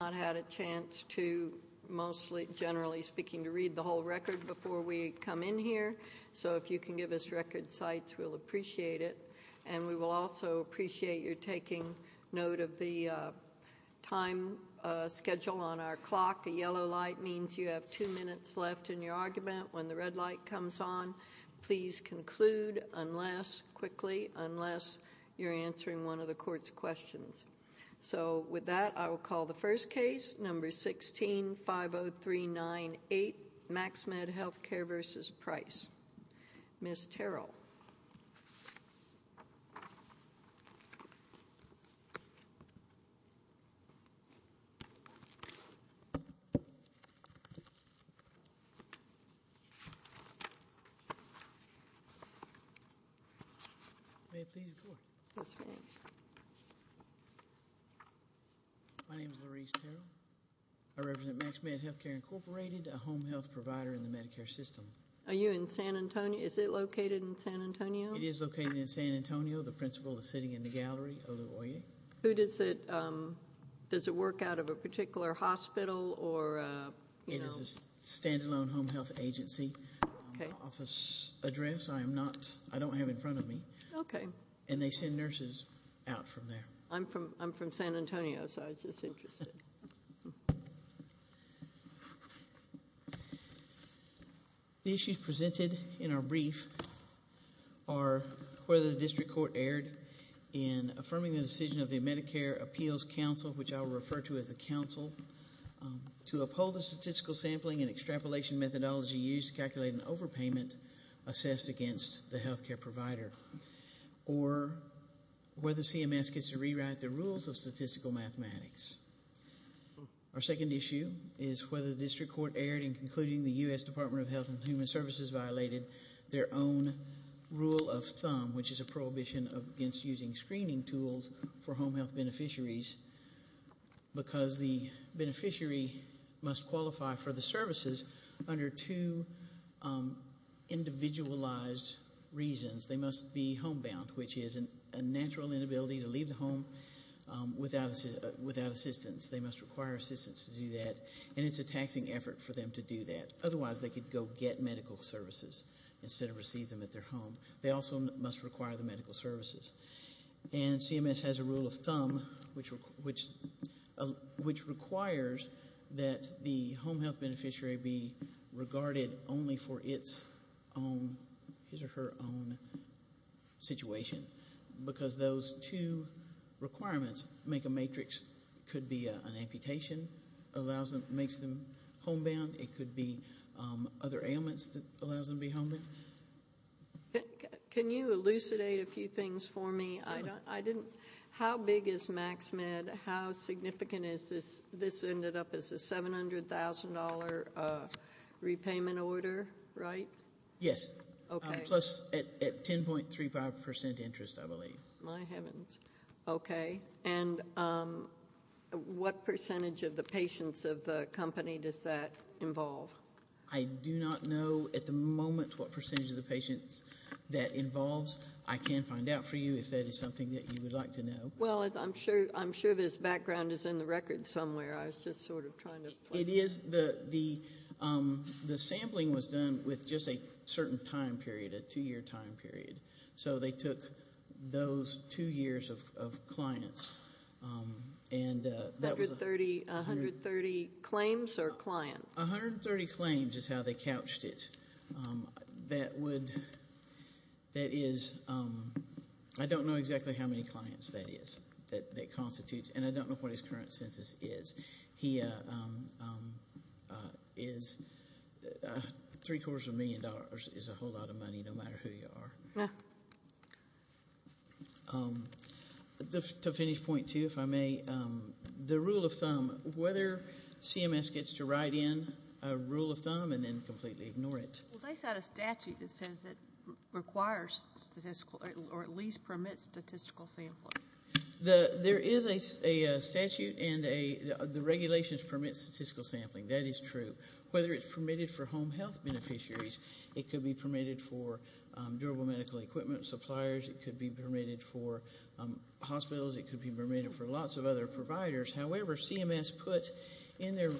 I have not had a chance to, mostly, generally speaking, to read the whole record before we come in here. So if you can give us record sites, we'll appreciate it. And we will also appreciate your taking note of the time schedule on our clock. The yellow light means you have two minutes left in your argument. When the red light comes on, please conclude unless, quickly, unless you're answering one of the court's questions. So, with that, I will call the first case, number 16-50398, Maxmed Healthcare v. Price. Ms. Terrell. May I please go? Yes, ma'am. My name is Lourise Terrell. I represent Maxmed Healthcare, Inc., a home health provider in the Medicare system. Are you in San Antonio? Is it located in San Antonio? It is located in San Antonio. The principal is sitting in the gallery, Olu Oye. Who does it, um, does it work out of a particular hospital or, uh, you know? It is a standalone home health agency. Okay. My office address, I am not, I don't have in front of me. Okay. And they send nurses out from there. I'm from, I'm from San Antonio, so I was just interested. The issues presented in our brief are whether the district court erred in affirming the decision of the Medicare Appeals Council, which I will refer to as the council, to uphold the statistical sampling and extrapolation methodology used to calculate an overpayment assessed against the healthcare provider. Or whether CMS gets to rewrite the rules of statistical mathematics. Our second issue is whether the district court erred in concluding the U.S. Department of Health and Human Services violated their own rule of thumb, which is a prohibition against using screening tools for home health beneficiaries because the beneficiary must qualify for the services under two, um, individualized reasons. They must be homebound, which is a natural inability to leave the home, um, without assistance. They must require assistance to do that. And it's a taxing effort for them to do that. Otherwise, they could go get medical services instead of receive them at their home. They also must require the medical services. And CMS has a rule of thumb, which requires that the home health beneficiary be regarded only for its own, his or her own situation. Because those two requirements make a matrix. It could be an amputation allows them, makes them homebound. It could be, um, other ailments that allows them to be homebound. Can you elucidate a few things for me? I don't, I didn't, how big is MaxMed? How significant is this? This ended up as a $700,000 repayment order, right? Yes. Okay. Plus at 10.35% interest, I believe. My heavens. Okay. And, um, what percentage of the patients of the company does that involve? I do not know at the moment what percentage of the patients that involves. I can find out for you if that is something that you would like to know. Well, I'm sure this background is in the record somewhere. I was just sort of trying to. It is. The sampling was done with just a certain time period, a two-year time period. So they took those two years of clients. 130 claims or clients? 130 claims is how they couched it. That would, that is, I don't know exactly how many clients that is, that constitutes. And I don't know what his current census is. He is, three-quarters of a million dollars is a whole lot of money, no matter who you are. To finish point two, if I may, the rule of thumb, whether CMS gets to write in a rule of thumb and then completely ignore it. Well, they've got a statute that says that requires statistical, or at least permits statistical sampling. There is a statute and the regulations permit statistical sampling. That is true. Whether it's permitted for home health beneficiaries, it could be permitted for durable medical equipment suppliers. It could be permitted for hospitals. It could be permitted for lots of other providers. However, CMS put in their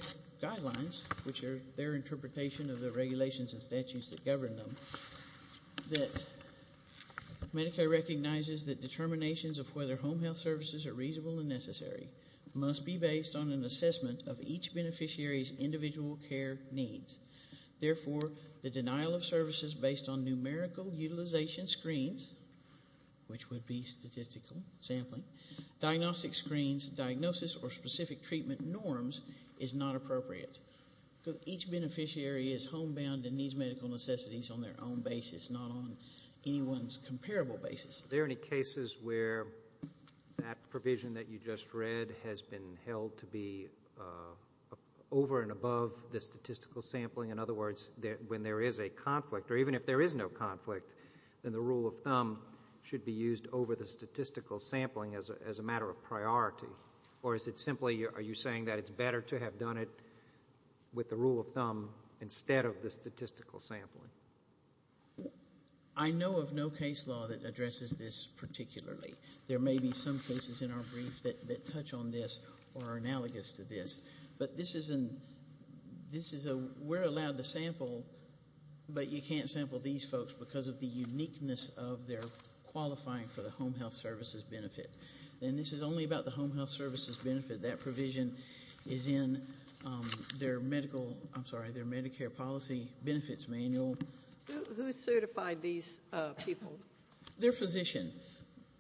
guidelines, which are their interpretation of the regulations and statutes that govern them, that Medicare recognizes that determinations of whether home health services are reasonable and necessary must be based on an assessment of each beneficiary's individual care needs. Therefore, the denial of services based on numerical utilization screens, which would be statistical sampling, diagnostic screens, diagnosis, or specific treatment norms is not appropriate because each beneficiary is homebound and needs medical necessities on their own basis, not on anyone's comparable basis. Are there any cases where that provision that you just read has been held to be over and above the statistical sampling? In other words, when there is a conflict, or even if there is no conflict, then the rule of thumb should be used over the statistical sampling as a matter of priority, or is it simply are you saying that it's better to have done it with the rule of thumb instead of the statistical sampling? I know of no case law that addresses this particularly. There may be some cases in our brief that touch on this or are analogous to this, but we're allowed to sample, but you can't sample these folks because of the uniqueness of their qualifying for the home health services benefit. And this is only about the home health services benefit. That provision is in their Medicare policy benefits manual. Who certified these people? Their physician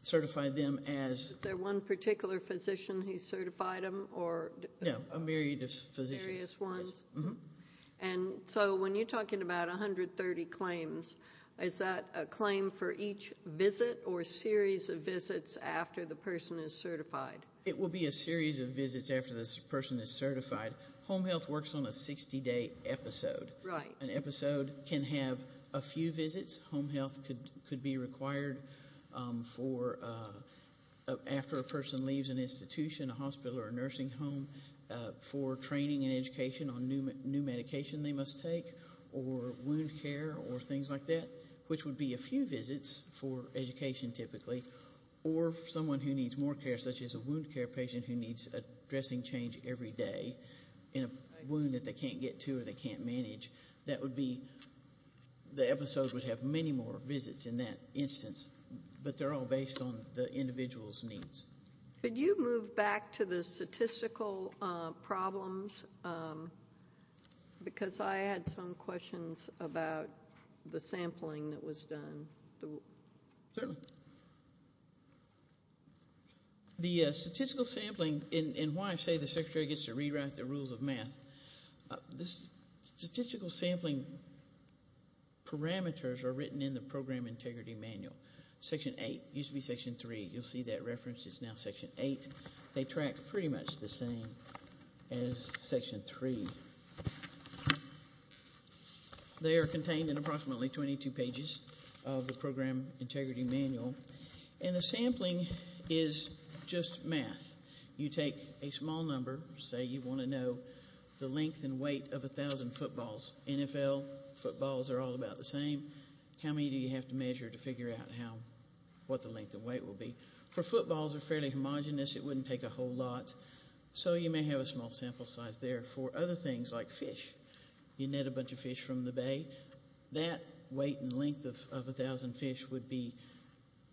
certified them as... Was there one particular physician who certified them? No, a myriad of physicians. Various ones. And so when you're talking about 130 claims, is that a claim for each visit or a series of visits after the person is certified? It will be a series of visits after this person is certified. Home health works on a 60-day episode. An episode can have a few visits. Home health could be required after a person leaves an institution, a hospital, or a nursing home for training and education on new medication they must take or wound care or things like that, which would be a few visits for education typically, or someone who needs more care such as a wound care patient who needs a dressing change every day in a wound that they can't get to or they can't manage. That would be the episode would have many more visits in that instance, but they're all based on the individual's needs. Could you move back to the statistical problems? Because I had some questions about the sampling that was done. Certainly. The statistical sampling, and why I say the secretary gets to rewrite the rules of math, the statistical sampling parameters are written in the Program Integrity Manual, Section 8. It used to be Section 3. You'll see that reference is now Section 8. They track pretty much the same as Section 3. They are contained in approximately 22 pages of the Program Integrity Manual, and the sampling is just math. You take a small number. Say you want to know the length and weight of 1,000 footballs. NFL footballs are all about the same. How many do you have to measure to figure out what the length and weight will be? For footballs, they're fairly homogenous. It wouldn't take a whole lot, so you may have a small sample size there. For other things like fish, you net a bunch of fish from the bay. That weight and length of 1,000 fish would be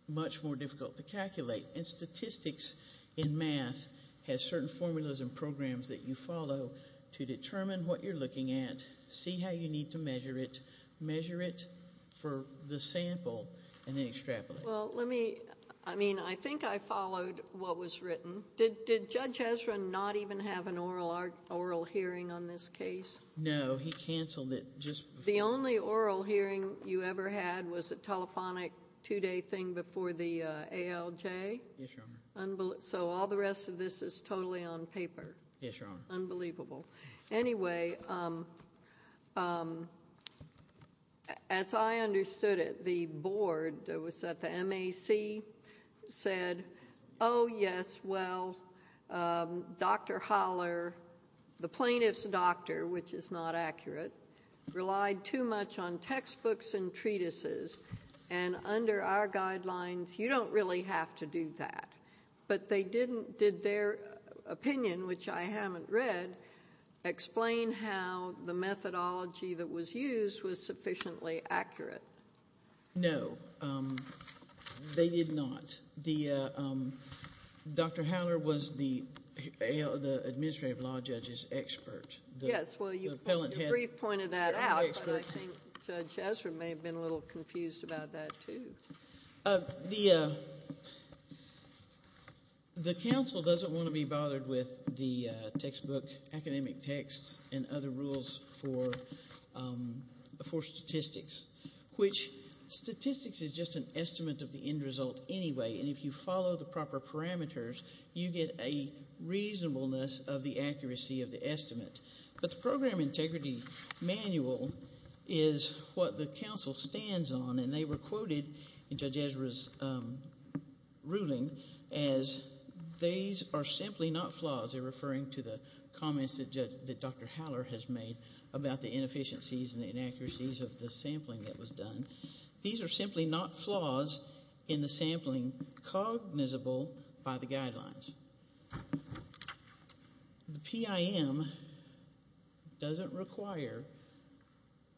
much more difficult to calculate, and statistics in math has certain formulas and programs that you follow to determine what you're looking at, see how you need to measure it, measure it for the sample, and then extrapolate. I think I followed what was written. Did Judge Ezra not even have an oral hearing on this case? No. He canceled it just before. The only oral hearing you ever had was a telephonic two-day thing before the ALJ? Yes, Your Honor. So all the rest of this is totally on paper? Yes, Your Honor. Unbelievable. Anyway, as I understood it, the board, was that the MAC, said, oh, yes, well, Dr. Holler, the plaintiff's doctor, which is not accurate, relied too much on textbooks and treatises, and under our guidelines, you don't really have to do that. But did their opinion, which I haven't read, explain how the methodology that was used was sufficiently accurate? No, they did not. Dr. Holler was the administrative law judge's expert. Yes, well, the brief pointed that out, but I think Judge Ezra may have been a little confused about that, too. The counsel doesn't want to be bothered with the textbook, academic texts, and other rules for statistics, which statistics is just an estimate of the end result anyway, and if you follow the proper parameters, you get a reasonableness of the accuracy of the estimate. But the program integrity manual is what the counsel stands on, and they were quoted in Judge Ezra's ruling as, these are simply not flaws. They're referring to the comments that Dr. Holler has made about the inefficiencies and the inaccuracies of the sampling that was done. These are simply not flaws in the sampling cognizable by the guidelines. The PIM doesn't require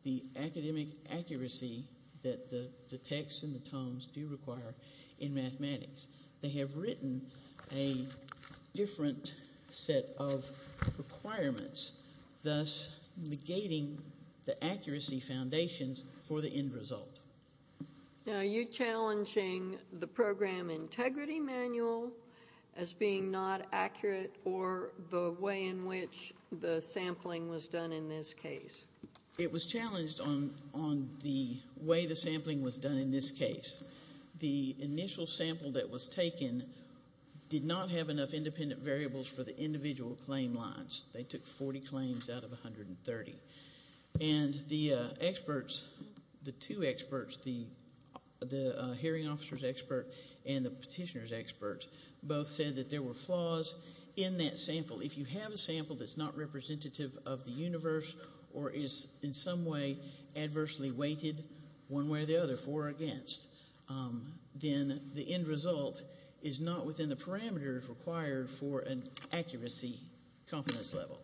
the academic accuracy that the texts and the tomes do require in mathematics. They have written a different set of requirements, thus negating the accuracy foundations for the end result. Now, are you challenging the program integrity manual as being not accurate or the way in which the sampling was done in this case? It was challenged on the way the sampling was done in this case. The initial sample that was taken did not have enough independent variables for the individual claim lines. They took 40 claims out of 130. And the experts, the two experts, the hearing officer's expert and the petitioner's expert, both said that there were flaws in that sample. If you have a sample that's not representative of the universe or is in some way adversely weighted one way or the other, for or against, then the end result is not within the parameters required for an accuracy confidence level.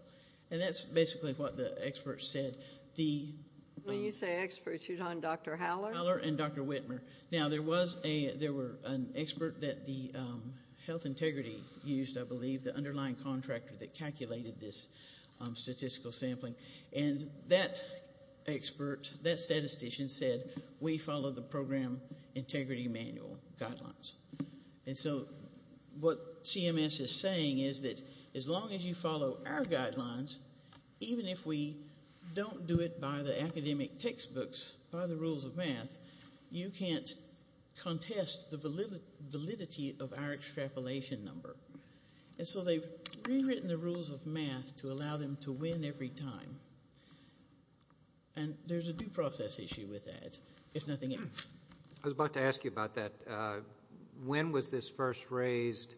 And that's basically what the experts said. When you say experts, you mean Dr. Howler? Howler and Dr. Whitmer. Now, there was an expert that the health integrity used, I believe, the underlying contractor that calculated this statistical sampling. And that expert, that statistician, said we follow the program integrity manual guidelines. And so what CMS is saying is that as long as you follow our guidelines, even if we don't do it by the academic textbooks, by the rules of math, you can't contest the validity of our extrapolation number. And so they've rewritten the rules of math to allow them to win every time. And there's a due process issue with that, if nothing else. I was about to ask you about that. When was this first raised,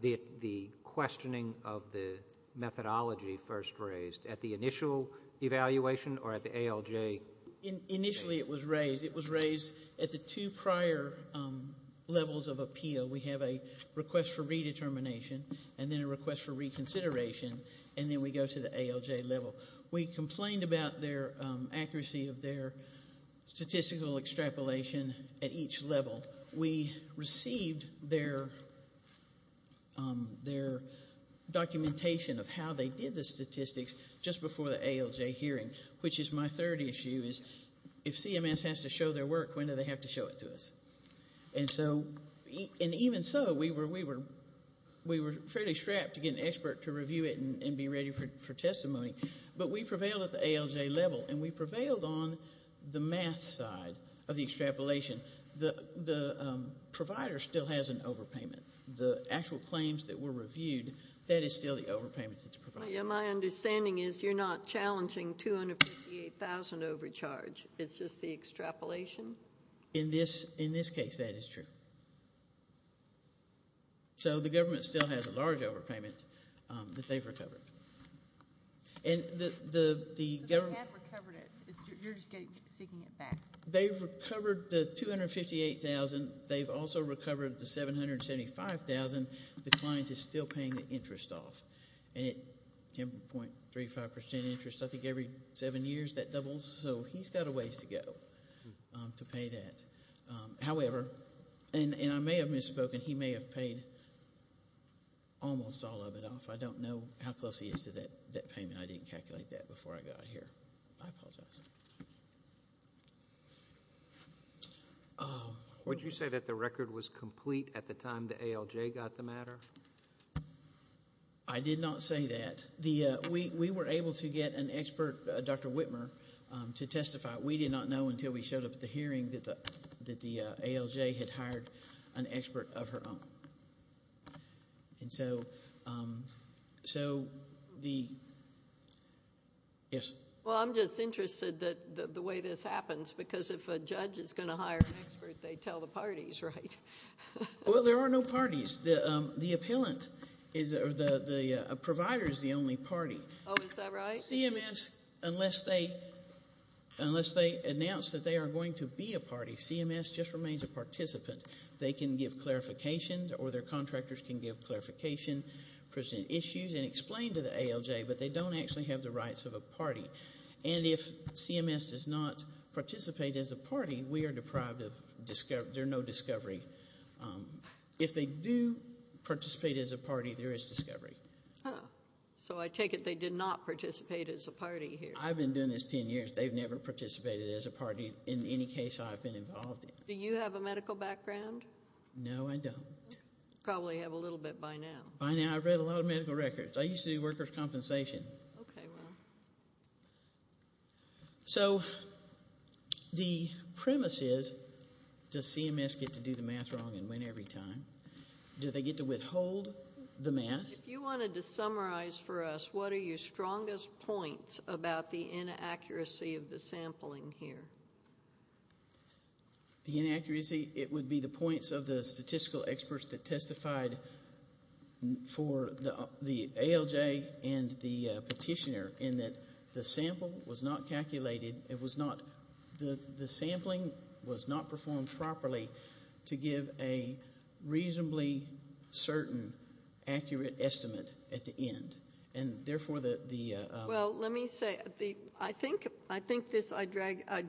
the questioning of the methodology first raised? At the initial evaluation or at the ALJ? Initially it was raised. It was raised at the two prior levels of appeal. We have a request for redetermination and then a request for reconsideration, and then we go to the ALJ level. We complained about their accuracy of their statistical extrapolation at each level. We received their documentation of how they did the statistics just before the ALJ hearing, which is my third issue, is if CMS has to show their work, when do they have to show it to us? And even so, we were fairly strapped to get an expert to review it and be ready for testimony. But we prevailed at the ALJ level, and we prevailed on the math side of the extrapolation. The provider still has an overpayment. The actual claims that were reviewed, that is still the overpayment that's provided. My understanding is you're not challenging 258,000 overcharge. It's just the extrapolation? In this case, that is true. So the government still has a large overpayment that they've recovered. But they have recovered it. You're just seeking it back. They've recovered the 258,000. They've also recovered the 775,000. The client is still paying the interest off, 10.35% interest. I think every seven years that doubles. So he's got a ways to go to pay that. However, and I may have misspoken, he may have paid almost all of it off. I don't know how close he is to that payment. I didn't calculate that before I got here. I apologize. Would you say that the record was complete at the time the ALJ got the matter? I did not say that. We were able to get an expert, Dr. Whitmer, to testify. We did not know until we showed up at the hearing that the ALJ had hired an expert of her own. Well, I'm just interested that the way this happens, because if a judge is going to hire an expert, they tell the parties, right? Well, there are no parties. The provider is the only party. Oh, is that right? CMS, unless they announce that they are going to be a party, CMS just remains a participant. They can give clarification, or their contractors can give clarification, present issues, and explain to the ALJ, but they don't actually have the rights of a party. And if CMS does not participate as a party, we are deprived of discovery. There's no discovery. If they do participate as a party, there is discovery. Oh, so I take it they did not participate as a party here. I've been doing this 10 years. They've never participated as a party in any case I've been involved in. Do you have a medical background? No, I don't. Probably have a little bit by now. By now, I've read a lot of medical records. I used to do workers' compensation. Okay, well. So the premise is, does CMS get to do the math wrong and win every time? Do they get to withhold the math? If you wanted to summarize for us, what are your strongest points about the inaccuracy of the sampling here? The inaccuracy, it would be the points of the statistical experts that testified for the ALJ and the petitioner in that the sampling was not performed properly to give a reasonably certain accurate estimate at the end. And therefore, the ‑‑ Well, let me say, I think this, I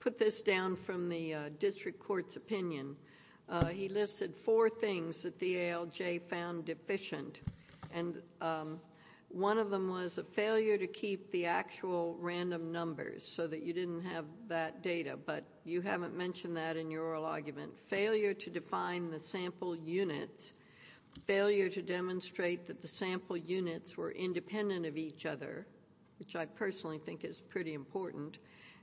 put this down from the district court's opinion. He listed four things that the ALJ found deficient. And one of them was a failure to keep the actual random numbers so that you didn't have that data. But you haven't mentioned that in your oral argument. Failure to define the sample units, failure to demonstrate that the sample units were independent of each other, which I personally think is pretty important,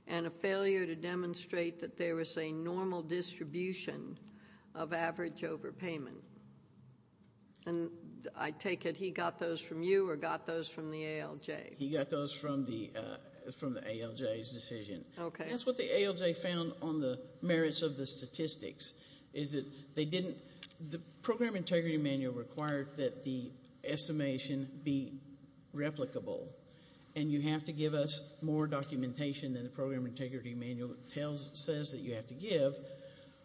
and a failure to demonstrate that there was a normal distribution of average overpayment. And I take it he got those from you or got those from the ALJ? He got those from the ALJ's decision. Okay. That's what the ALJ found on the merits of the statistics, is that they didn't ‑‑ the Program Integrity Manual required that the estimation be replicable, and you have to give us more documentation than the Program Integrity Manual says that you have to give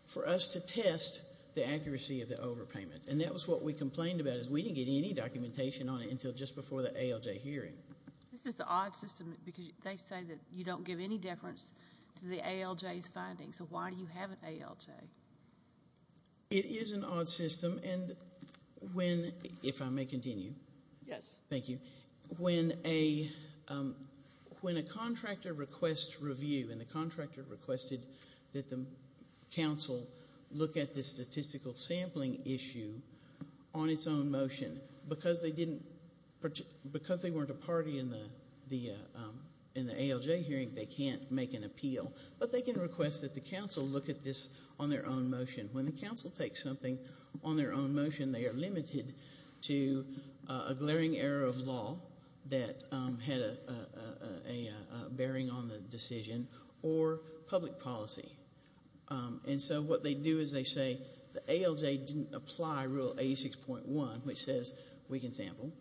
for us to test the accuracy of the overpayment. And that was what we complained about, is we didn't get any documentation on it until just before the ALJ hearing. This is the odd system, because they say that you don't give any deference to the ALJ's findings. So why do you have an ALJ? It is an odd system, and when, if I may continue. Yes. Thank you. When a contractor requests review, and the contractor requested that the council look at the statistical sampling issue on its own motion, because they weren't a party in the ALJ hearing, they can't make an appeal. But they can request that the council look at this on their own motion. When the council takes something on their own motion, they are limited to a glaring error of law that had a bearing on the decision, or public policy. And so what they do is they say, the ALJ didn't apply Rule 86.1, which says we can sample.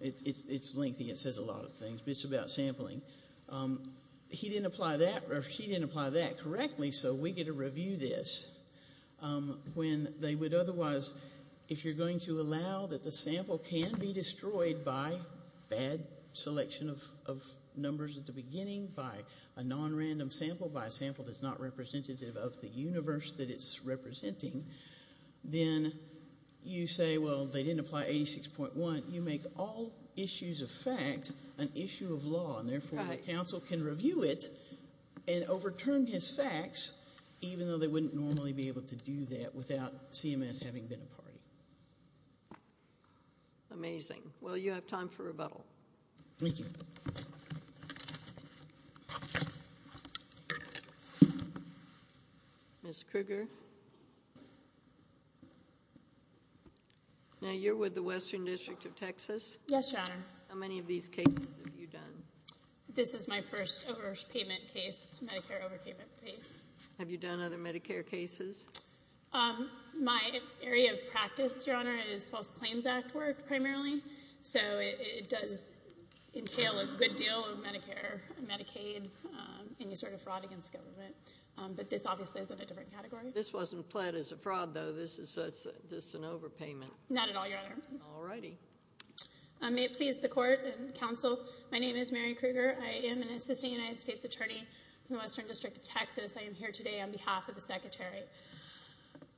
It's lengthy. It says a lot of things, but it's about sampling. He didn't apply that, or she didn't apply that correctly, so we get to review this. When they would otherwise, if you're going to allow that the sample can be destroyed by bad selection of numbers at the beginning, by a nonrandom sample, by a sample that's not representative of the universe that it's representing, then you say, well, they didn't apply 86.1. You make all issues of fact an issue of law, and therefore the council can review it and overturn his facts, even though they wouldn't normally be able to do that without CMS having been a party. Amazing. Well, you have time for rebuttal. Thank you. Ms. Krueger? Now you're with the Western District of Texas. Yes, Your Honor. How many of these cases have you done? This is my first Medicare overpayment case. Have you done other Medicare cases? My area of practice, Your Honor, is False Claims Act work primarily, so it does entail a good deal of Medicare, Medicaid, any sort of fraud against government. But this obviously is in a different category. This wasn't pled as a fraud, though. This is an overpayment. Not at all, Your Honor. All righty. May it please the Court and the Council, my name is Mary Krueger. I am an assistant United States attorney from the Western District of Texas. I am here today on behalf of the Secretary.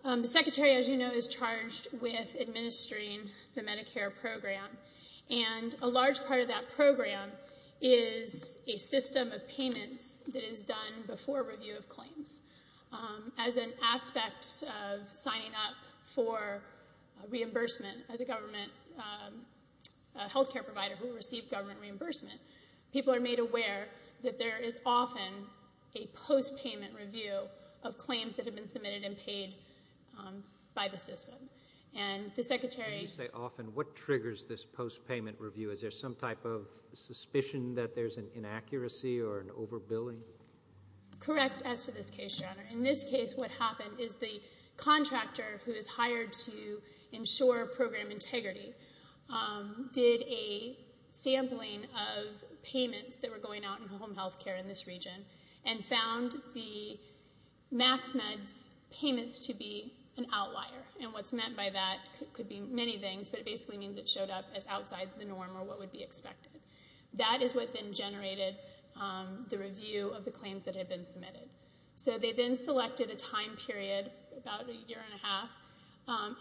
The Secretary, as you know, is charged with administering the Medicare program, and a large part of that program is a system of payments that is done before review of claims. As an aspect of signing up for reimbursement, as a government health care provider who received government reimbursement, people are made aware that there is often a post-payment review of claims that have been submitted and paid by the system. And the Secretary... When you say often, what triggers this post-payment review? Is there some type of suspicion that there's an inaccuracy or an overbilling? Correct as to this case, Your Honor. In this case, what happened is the contractor who is hired to ensure program integrity did a sampling of payments that were going out in home health care in this region and found the MaxMed's payments to be an outlier. And what's meant by that could be many things, but it basically means it showed up as outside the norm or what would be expected. That is what then generated the review of the claims that had been submitted. So they then selected a time period, about a year and a half,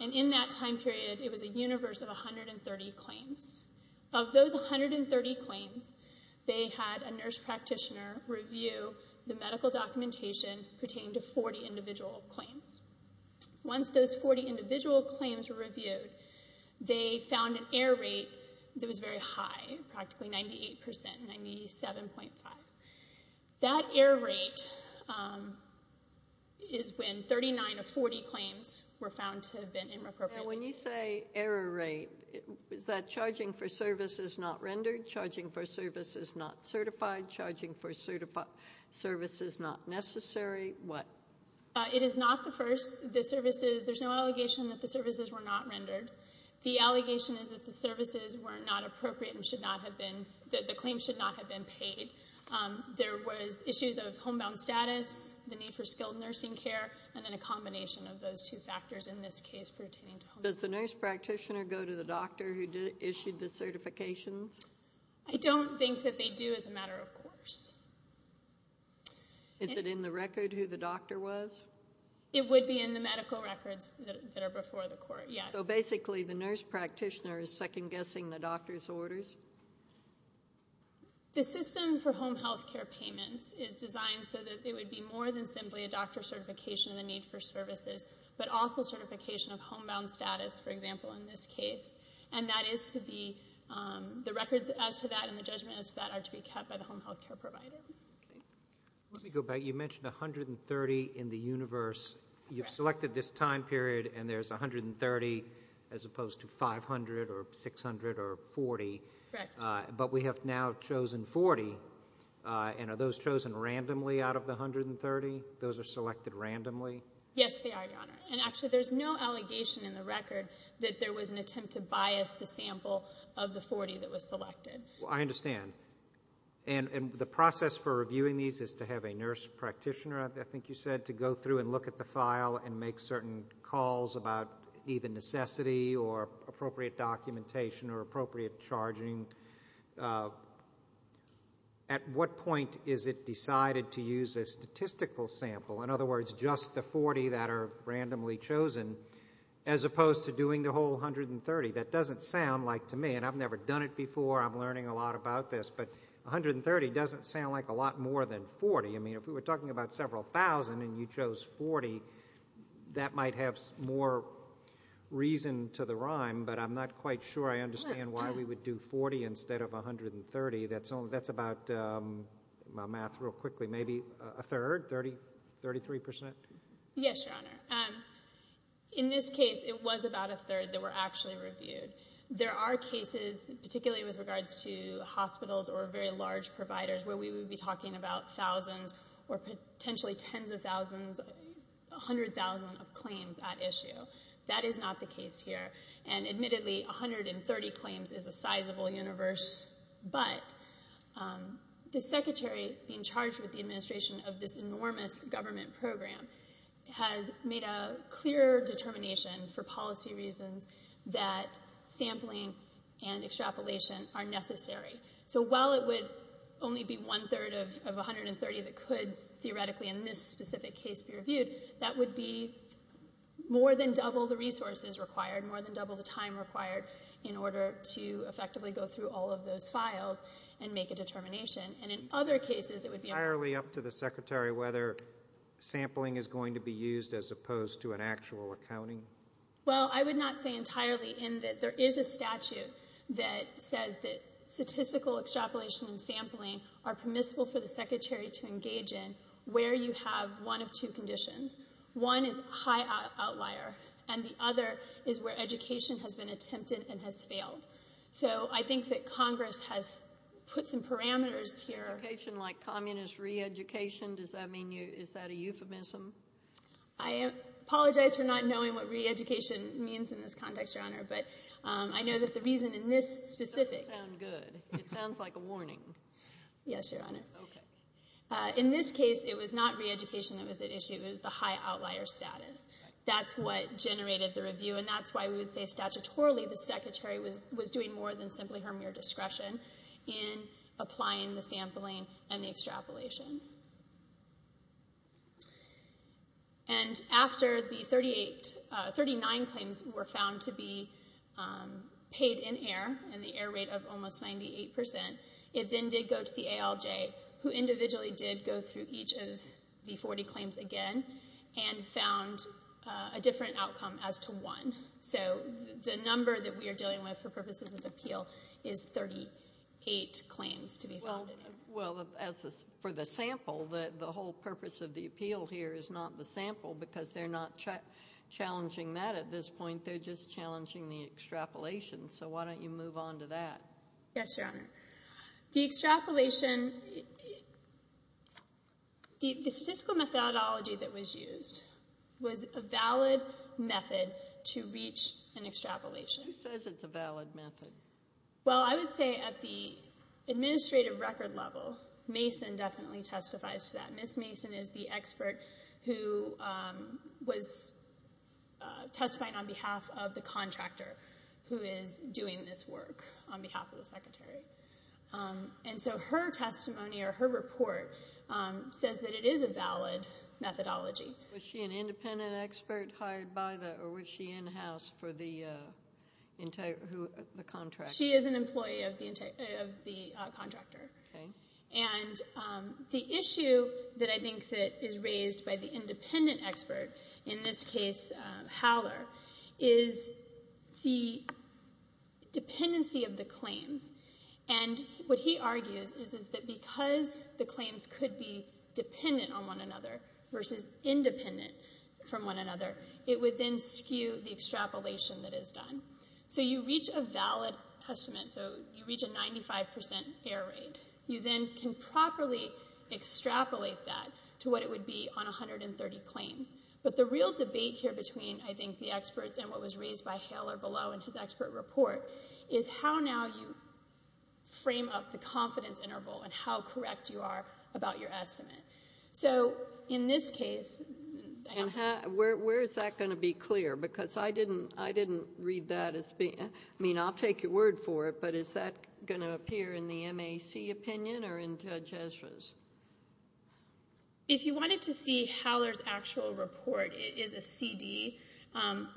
and in that time period, it was a universe of 130 claims. Of those 130 claims, they had a nurse practitioner review the medical documentation pertaining to 40 individual claims. Once those 40 individual claims were reviewed, they found an error rate that was very high, practically 98%, 97.5. That error rate is when 39 of 40 claims were found to have been inappropriate. Now, when you say error rate, is that charging for services not rendered, charging for services not certified, charging for services not necessary? What? It is not the first. There's no allegation that the services were not rendered. The allegation is that the services were not appropriate and the claims should not have been paid. There was issues of homebound status, the need for skilled nursing care, and then a combination of those two factors in this case pertaining to homebound status. Does the nurse practitioner go to the doctor who issued the certifications? I don't think that they do as a matter of course. Is it in the record who the doctor was? It would be in the medical records that are before the court, yes. So basically the nurse practitioner is second-guessing the doctor's orders? The system for home health care payments is designed so that it would be more than simply a doctor certification of the need for services, but also certification of homebound status, for example, in this case. And that is to be the records as to that and the judgment as to that are to be kept by the home health care provider. Let me go back. You mentioned 130 in the universe. You've selected this time period, and there's 130 as opposed to 500 or 600 or 40. Correct. But we have now chosen 40, and are those chosen randomly out of the 130? Those are selected randomly? Yes, they are, Your Honor, and actually there's no allegation in the record that there was an attempt to bias the sample of the 40 that was selected. I understand. And the process for reviewing these is to have a nurse practitioner, I think you said, to go through and look at the file and make certain calls about either necessity or appropriate documentation or appropriate charging. At what point is it decided to use a statistical sample, in other words just the 40 that are randomly chosen, as opposed to doing the whole 130? That doesn't sound like, to me, and I've never done it before, I'm learning a lot about this, but 130 doesn't sound like a lot more than 40. I mean, if we were talking about several thousand and you chose 40, that might have more reason to the rhyme, but I'm not quite sure I understand why we would do 40 instead of 130. That's about, my math real quickly, maybe a third, 33%? Yes, Your Honor. In this case, it was about a third that were actually reviewed. There are cases, particularly with regards to hospitals or very large providers, where we would be talking about thousands or potentially tens of thousands, 100,000 of claims at issue. That is not the case here. And admittedly, 130 claims is a sizable universe, but the secretary being charged with the administration of this enormous government program has made a clear determination for policy reasons that sampling and extrapolation are necessary. So while it would only be one-third of 130 that could theoretically in this specific case be reviewed, that would be more than double the resources required, more than double the time required in order to effectively go through all of those files and make a determination. And in other cases, it would be... Entirely up to the secretary whether sampling is going to be used as opposed to an actual accounting? Well, I would not say entirely in that there is a statute that says that statistical extrapolation and sampling are permissible for the secretary to engage in where you have one of two conditions. One is high outlier, and the other is where education has been attempted and has failed. So I think that Congress has put some parameters here. Education like communist re-education? Does that mean you... Is that a euphemism? I apologize for not knowing what re-education means in this context, Your Honor, but I know that the reason in this specific... That doesn't sound good. It sounds like a warning. Yes, Your Honor. In this case, it was not re-education that was at issue. It was the high outlier status. That's what generated the review, and that's why we would say statutorily the secretary was doing more than simply her mere discretion in applying the sampling and the extrapolation. And after the 39 claims were found to be paid in air, and the air rate of almost 98%, it then did go to the ALJ, who individually did go through each of the 40 claims again and found a different outcome as to one. So the number that we are dealing with for purposes of appeal is 38 claims to be found. Well, for the sample, the whole purpose of the appeal here is not the sample because they're not challenging that at this point. They're just challenging the extrapolation. So why don't you move on to that? Yes, Your Honor. The extrapolation... The statistical methodology that was used was a valid method to reach an extrapolation. Who says it's a valid method? Well, I would say at the administrative record level, Mason definitely testifies to that. Ms. Mason is the expert who was testifying on behalf of the contractor who is doing this work on behalf of the secretary. And so her testimony or her report says that it is a valid methodology. Was she an independent expert hired by the Or was she in-house for the contractor? She is an employee of the contractor. Okay. And the issue that I think is raised by the independent expert, in this case Howler, is the dependency of the claims. And what he argues is that because the claims could be dependent on one another versus independent from one another, it would then skew the extrapolation that is done. So you reach a valid estimate, so you reach a 95% error rate. You then can properly extrapolate that to what it would be on 130 claims. But the real debate here between, I think, the experts and what was raised by Howler below in his expert report is how now you frame up the confidence interval and how correct you are about your estimate. So in this case, Howler. And where is that going to be clear? Because I didn't read that as being, I mean, I'll take your word for it, but is that going to appear in the MAC opinion or in Judge Ezra's? If you wanted to see Howler's actual report, it is a CD,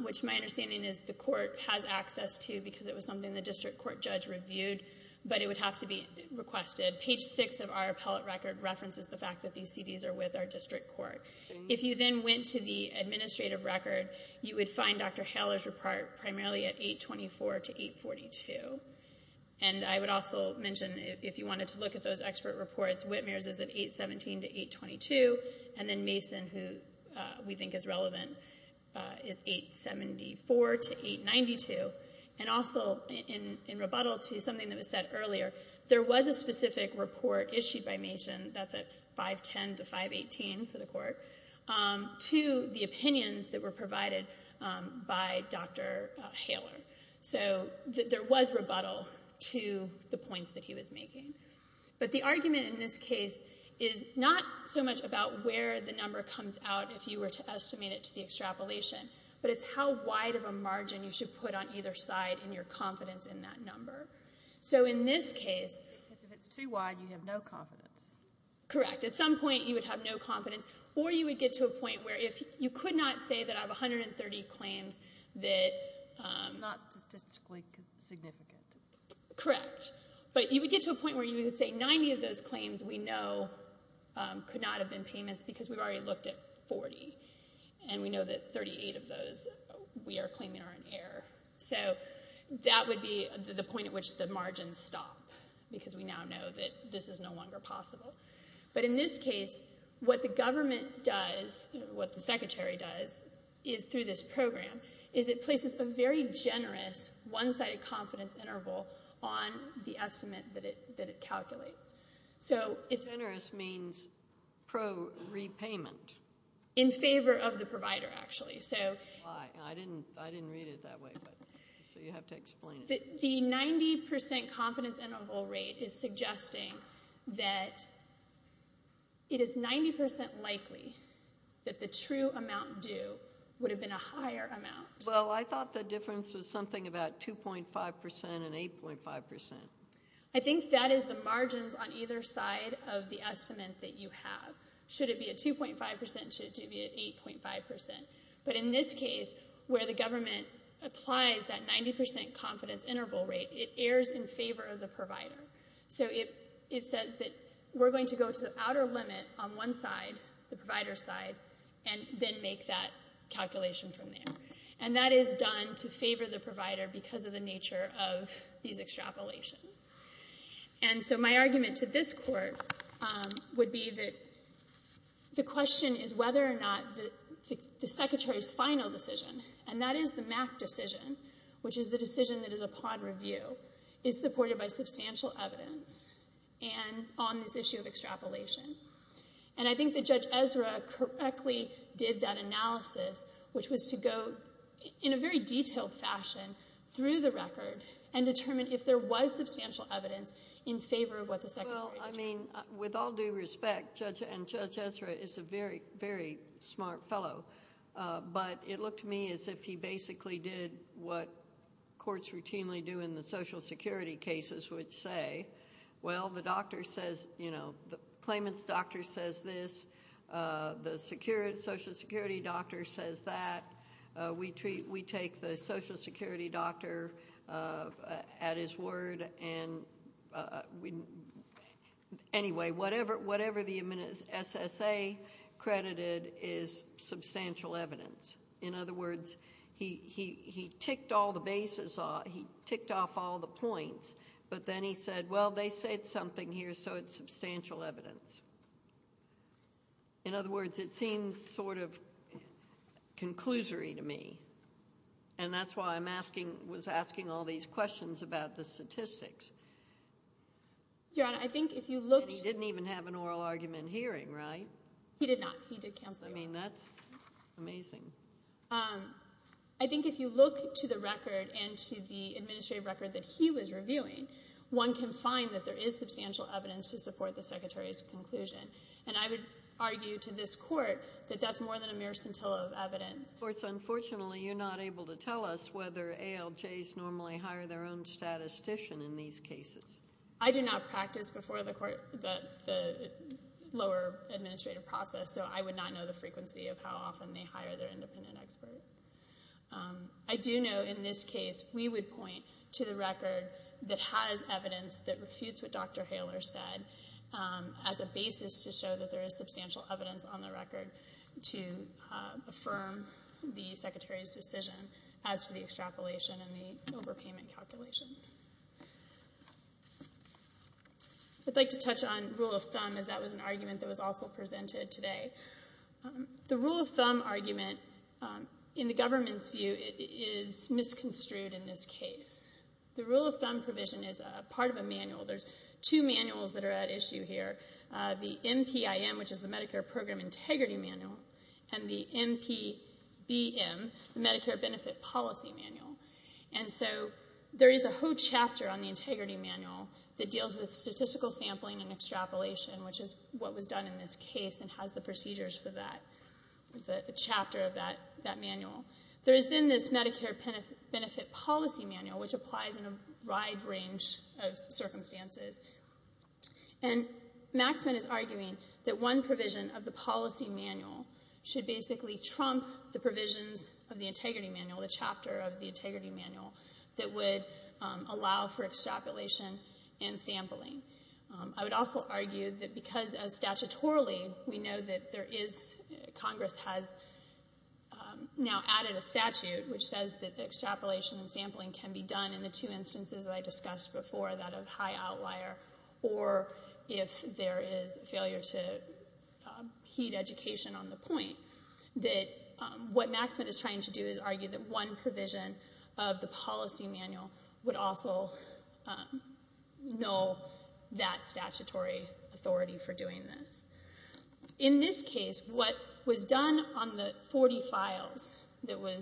which my understanding is the court has access to because it was something the district court judge reviewed, but it would have to be requested. Page 6 of our appellate record references the fact that these CDs are with our district court. If you then went to the administrative record, you would find Dr. Howler's report primarily at 824 to 842. And I would also mention, if you wanted to look at those expert reports, Whitmer's is at 817 to 822, and then Mason, who we think is relevant, is 874 to 892. And also, in rebuttal to something that was said earlier, there was a specific report issued by Mason that's at 510 to 518 for the court to the opinions that were provided by Dr. Howler. So there was rebuttal to the points that he was making. But the argument in this case is not so much about where the number comes out if you were to estimate it to the extrapolation, but it's how wide of a margin you should put on either side in your confidence in that number. So in this case... Because if it's too wide, you have no confidence. Correct. At some point, you would have no confidence, or you would get to a point where if you could not say that I have 130 claims that... It's not statistically significant. Correct. But you would get to a point where you would say 90 of those claims we know could not have been payments because we've already looked at 40, and we know that 38 of those we are claiming are in error. So that would be the point at which the margins stop because we now know that this is no longer possible. But in this case, what the government does, what the secretary does through this program, is it places a very generous one-sided confidence interval on the estimate that it calculates. Generous means pro-repayment. In favor of the provider, actually. I didn't read it that way, so you have to explain it. The 90% confidence interval rate is suggesting that it is 90% likely that the true amount due would have been a higher amount. Well, I thought the difference was something about 2.5% and 8.5%. I think that is the margins on either side of the estimate that you have. Should it be a 2.5%, should it be an 8.5%. But in this case, where the government applies that 90% confidence interval rate, it errs in favor of the provider. So it says that we're going to go to the outer limit on one side, the provider's side, and then make that calculation from there. And that is done to favor the provider because of the nature of these extrapolations. And so my argument to this court would be that the question is whether or not the Secretary's final decision, and that is the MAC decision, which is the decision that is upon review, is supported by substantial evidence on this issue of extrapolation. And I think that Judge Ezra correctly did that analysis, which was to go in a very detailed fashion through the record and determine if there was substantial evidence in favor of what the Secretary determined. Well, I mean, with all due respect, Judge Ezra is a very, very smart fellow. But it looked to me as if he basically did what courts routinely do in the Social Security cases, which say, well, the doctor says, you know, the claimant's doctor says this, the Social Security doctor says that. We take the Social Security doctor at his word, and anyway, whatever the SSA credited is substantial evidence. In other words, he ticked off all the points, but then he said, well, they said something here, so it's substantial evidence. In other words, it seems sort of conclusory to me, and that's why I was asking all these questions about the statistics. Your Honor, I think if you look to the record and to the administrative record that he was reviewing, one can find that there is substantial evidence to support the Secretary's conclusion. And I would argue to this Court that that's more than a mere scintilla of evidence. Unfortunately, you're not able to tell us whether ALJs normally hire their own statistician in these cases. I do not practice before the lower administrative process, so I would not know the frequency of how often they hire their independent expert. I do know in this case we would point to the record that has evidence that refutes what Dr. Haler said as a basis to show that there is substantial evidence on the record to affirm the Secretary's decision as to the extrapolation and the overpayment calculation. I'd like to touch on rule of thumb, as that was an argument that was also presented today. The rule of thumb argument, in the government's view, is misconstrued in this case. The rule of thumb provision is part of a manual. There's two manuals that are at issue here, the MPIM, which is the Medicare Program Integrity Manual, and the MPBM, the Medicare Benefit Policy Manual. And so there is a whole chapter on the Integrity Manual that deals with statistical sampling and extrapolation, which is what was done in this case and has the procedures for that. It's a chapter of that manual. There is then this Medicare Benefit Policy Manual, which applies in a wide range of circumstances. And Maxman is arguing that one provision of the policy manual should basically trump the provisions of the Integrity Manual, the chapter of the Integrity Manual, that would allow for extrapolation and sampling. I would also argue that because, statutorily, we know that Congress has now added a statute which says that extrapolation and sampling can be done in the two instances that I discussed before, that of high outlier, or if there is failure to heed education on the point, that what Maxman is trying to do is argue that one provision of the policy manual would also null that statutory authority for doing this. In this case, what was done on the 40 files that were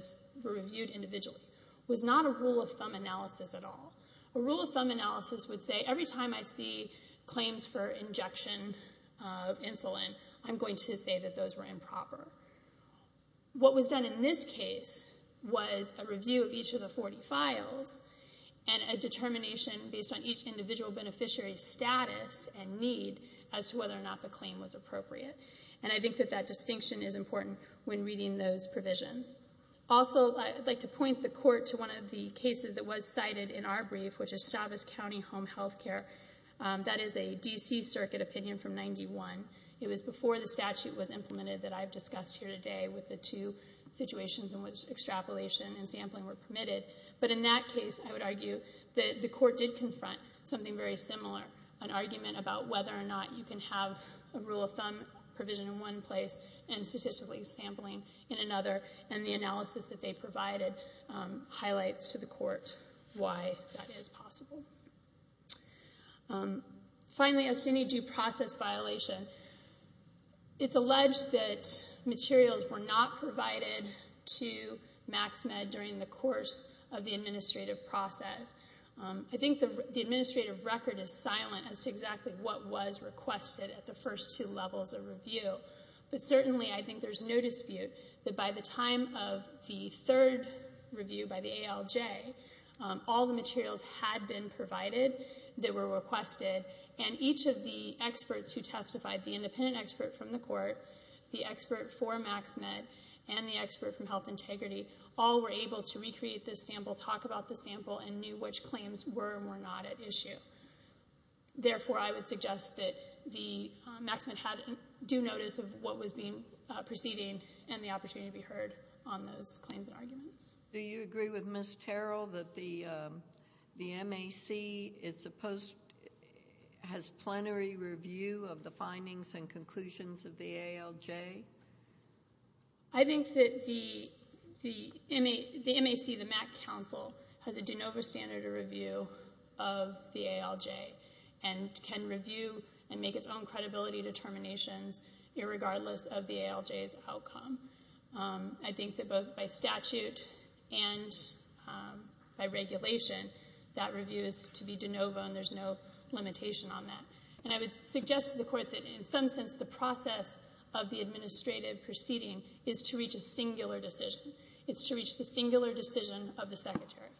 reviewed individually was not a rule of thumb analysis at all. A rule of thumb analysis would say, every time I see claims for injection of insulin, I'm going to say that those were improper. What was done in this case was a review of each of the 40 files and a determination based on each individual beneficiary's status and need as to whether or not the claim was appropriate. And I think that that distinction is important when reading those provisions. Also, I'd like to point the Court to one of the cases that was cited in our brief, which is Stavis County Home Health Care. That is a D.C. Circuit opinion from 1991. It was before the statute was implemented that I've discussed here today with the two situations in which extrapolation and sampling were permitted. But in that case, I would argue that the Court did confront something very similar, an argument about whether or not you can have a rule of thumb provision in one place and statistically sampling in another. And the analysis that they provided highlights to the Court why that is possible. Finally, as to any due process violation, it's alleged that materials were not provided to MaxMed during the course of the administrative process. I think the administrative record is silent as to exactly what was requested at the first two levels of review. But certainly I think there's no dispute that by the time of the third review by the ALJ, all the materials had been provided that were requested, and each of the experts who testified, the independent expert from the Court, the expert for MaxMed, and the expert from Health Integrity, all were able to recreate the sample, talk about the sample, and knew which claims were and were not at issue. Therefore, I would suggest that MaxMed do notice of what was proceeding and the opportunity to be heard on those claims and arguments. Do you agree with Ms. Terrell that the MAC has plenary review of the findings and conclusions of the ALJ? I think that the MAC, the MAC Council, has a de novo standard of review of the ALJ and can review and make its own credibility determinations irregardless of the ALJ's outcome. I think that both by statute and by regulation, that review is to be de novo and there's no limitation on that. And I would suggest to the Court that in some sense the process of the administrative proceeding is to reach a singular decision. It's to reach the singular decision of the Secretary.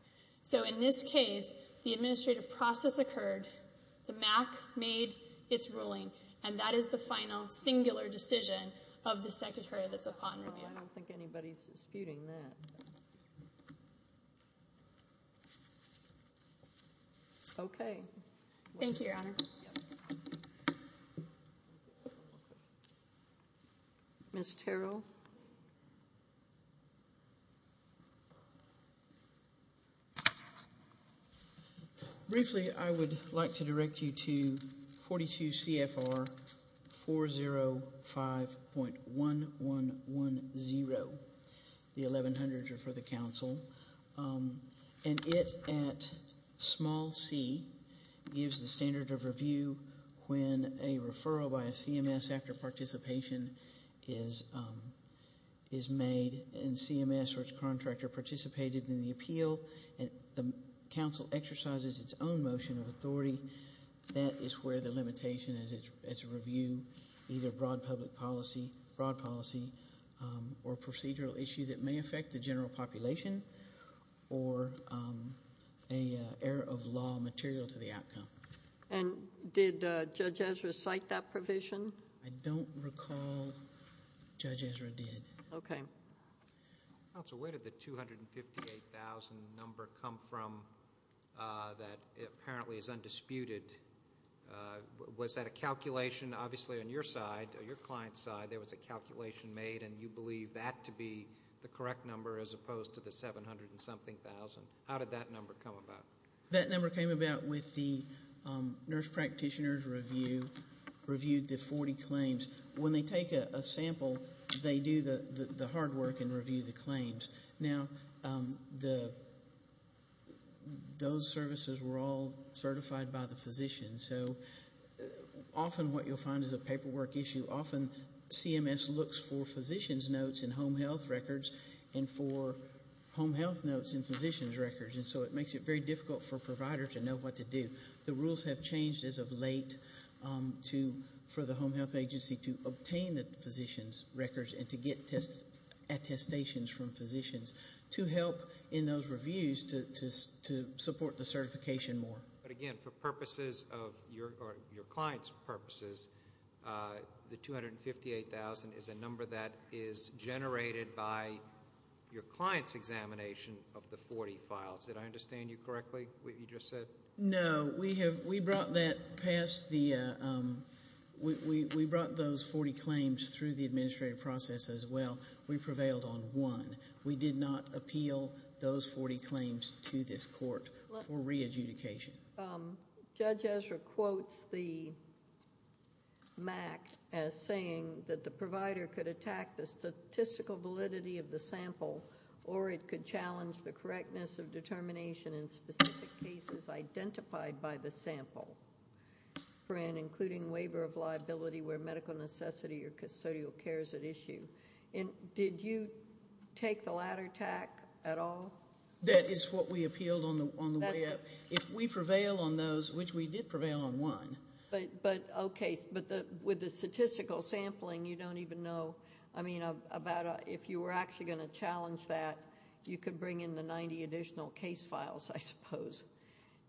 So in this case, the administrative process occurred, the MAC made its ruling, and that is the final singular decision of the Secretary that's upon review. I don't think anybody's disputing that. Okay. Thank you, Your Honor. Yep. Ms. Terrell? Briefly, I would like to direct you to 42 CFR 405.1110, the 1100s are for the Council. And it, at small c, gives the standard of review when a referral by a CMS after participation is made and CMS or its contractor participated in the appeal and the Council exercises its own motion of authority. That is where the limitation is its review, either broad public policy, broad policy, or procedural issue that may affect the general population or an error of law material to the outcome. And did Judge Ezra cite that provision? I don't recall Judge Ezra did. Okay. Counsel, where did the 258,000 number come from that apparently is undisputed? Was that a calculation? Obviously, on your side, your client's side, there was a calculation made, and you believe that to be the correct number as opposed to the 700-and-something thousand. How did that number come about? That number came about with the nurse practitioner's review, reviewed the 40 claims. When they take a sample, they do the hard work and review the claims. Now, those services were all certified by the physician, so often what you'll find is a paperwork issue. Often CMS looks for physician's notes in home health records and for home health notes in physician's records, and so it makes it very difficult for a provider to know what to do. The rules have changed as of late for the home health agency to obtain the physician's records and to get attestations from physicians to help in those reviews to support the certification more. But, again, for purposes of your client's purposes, the 258,000 is a number that is generated by your client's examination of the 40 files. Did I understand you correctly, what you just said? No. We brought those 40 claims through the administrative process as well. We prevailed on one. We did not appeal those 40 claims to this court for re-adjudication. Judge Ezra quotes the MAC as saying that the provider could attack the statistical validity of the sample or it could challenge the correctness of determination in specific cases identified by the sample for an including waiver of liability where medical necessity or custodial care is at issue. Did you take the latter tack at all? That is what we appealed on the way up. If we prevail on those, which we did prevail on one. Okay, but with the statistical sampling, you don't even know. If you were actually going to challenge that, you could bring in the 90 additional case files, I suppose,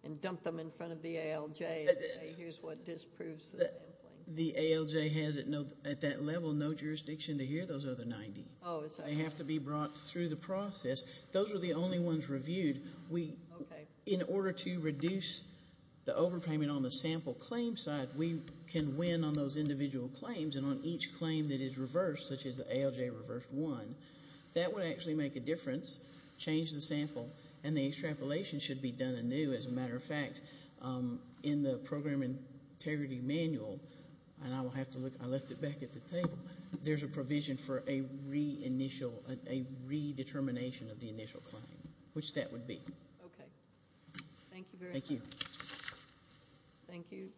and dump them in front of the ALJ and say, here's what disproves the sampling. The ALJ has, at that level, no jurisdiction to hear those other 90. They have to be brought through the process. Those are the only ones reviewed. In order to reduce the overpayment on the sample claim side, we can win on those individual claims and on each claim that is reversed, such as the ALJ reversed one. That would actually make a difference, change the sample, and the extrapolation should be done anew, as a matter of fact. In the Program Integrity Manual, and I left it back at the table, there's a provision for a re-determination of the initial claim, which that would be. Okay. Thank you very much. Thank you.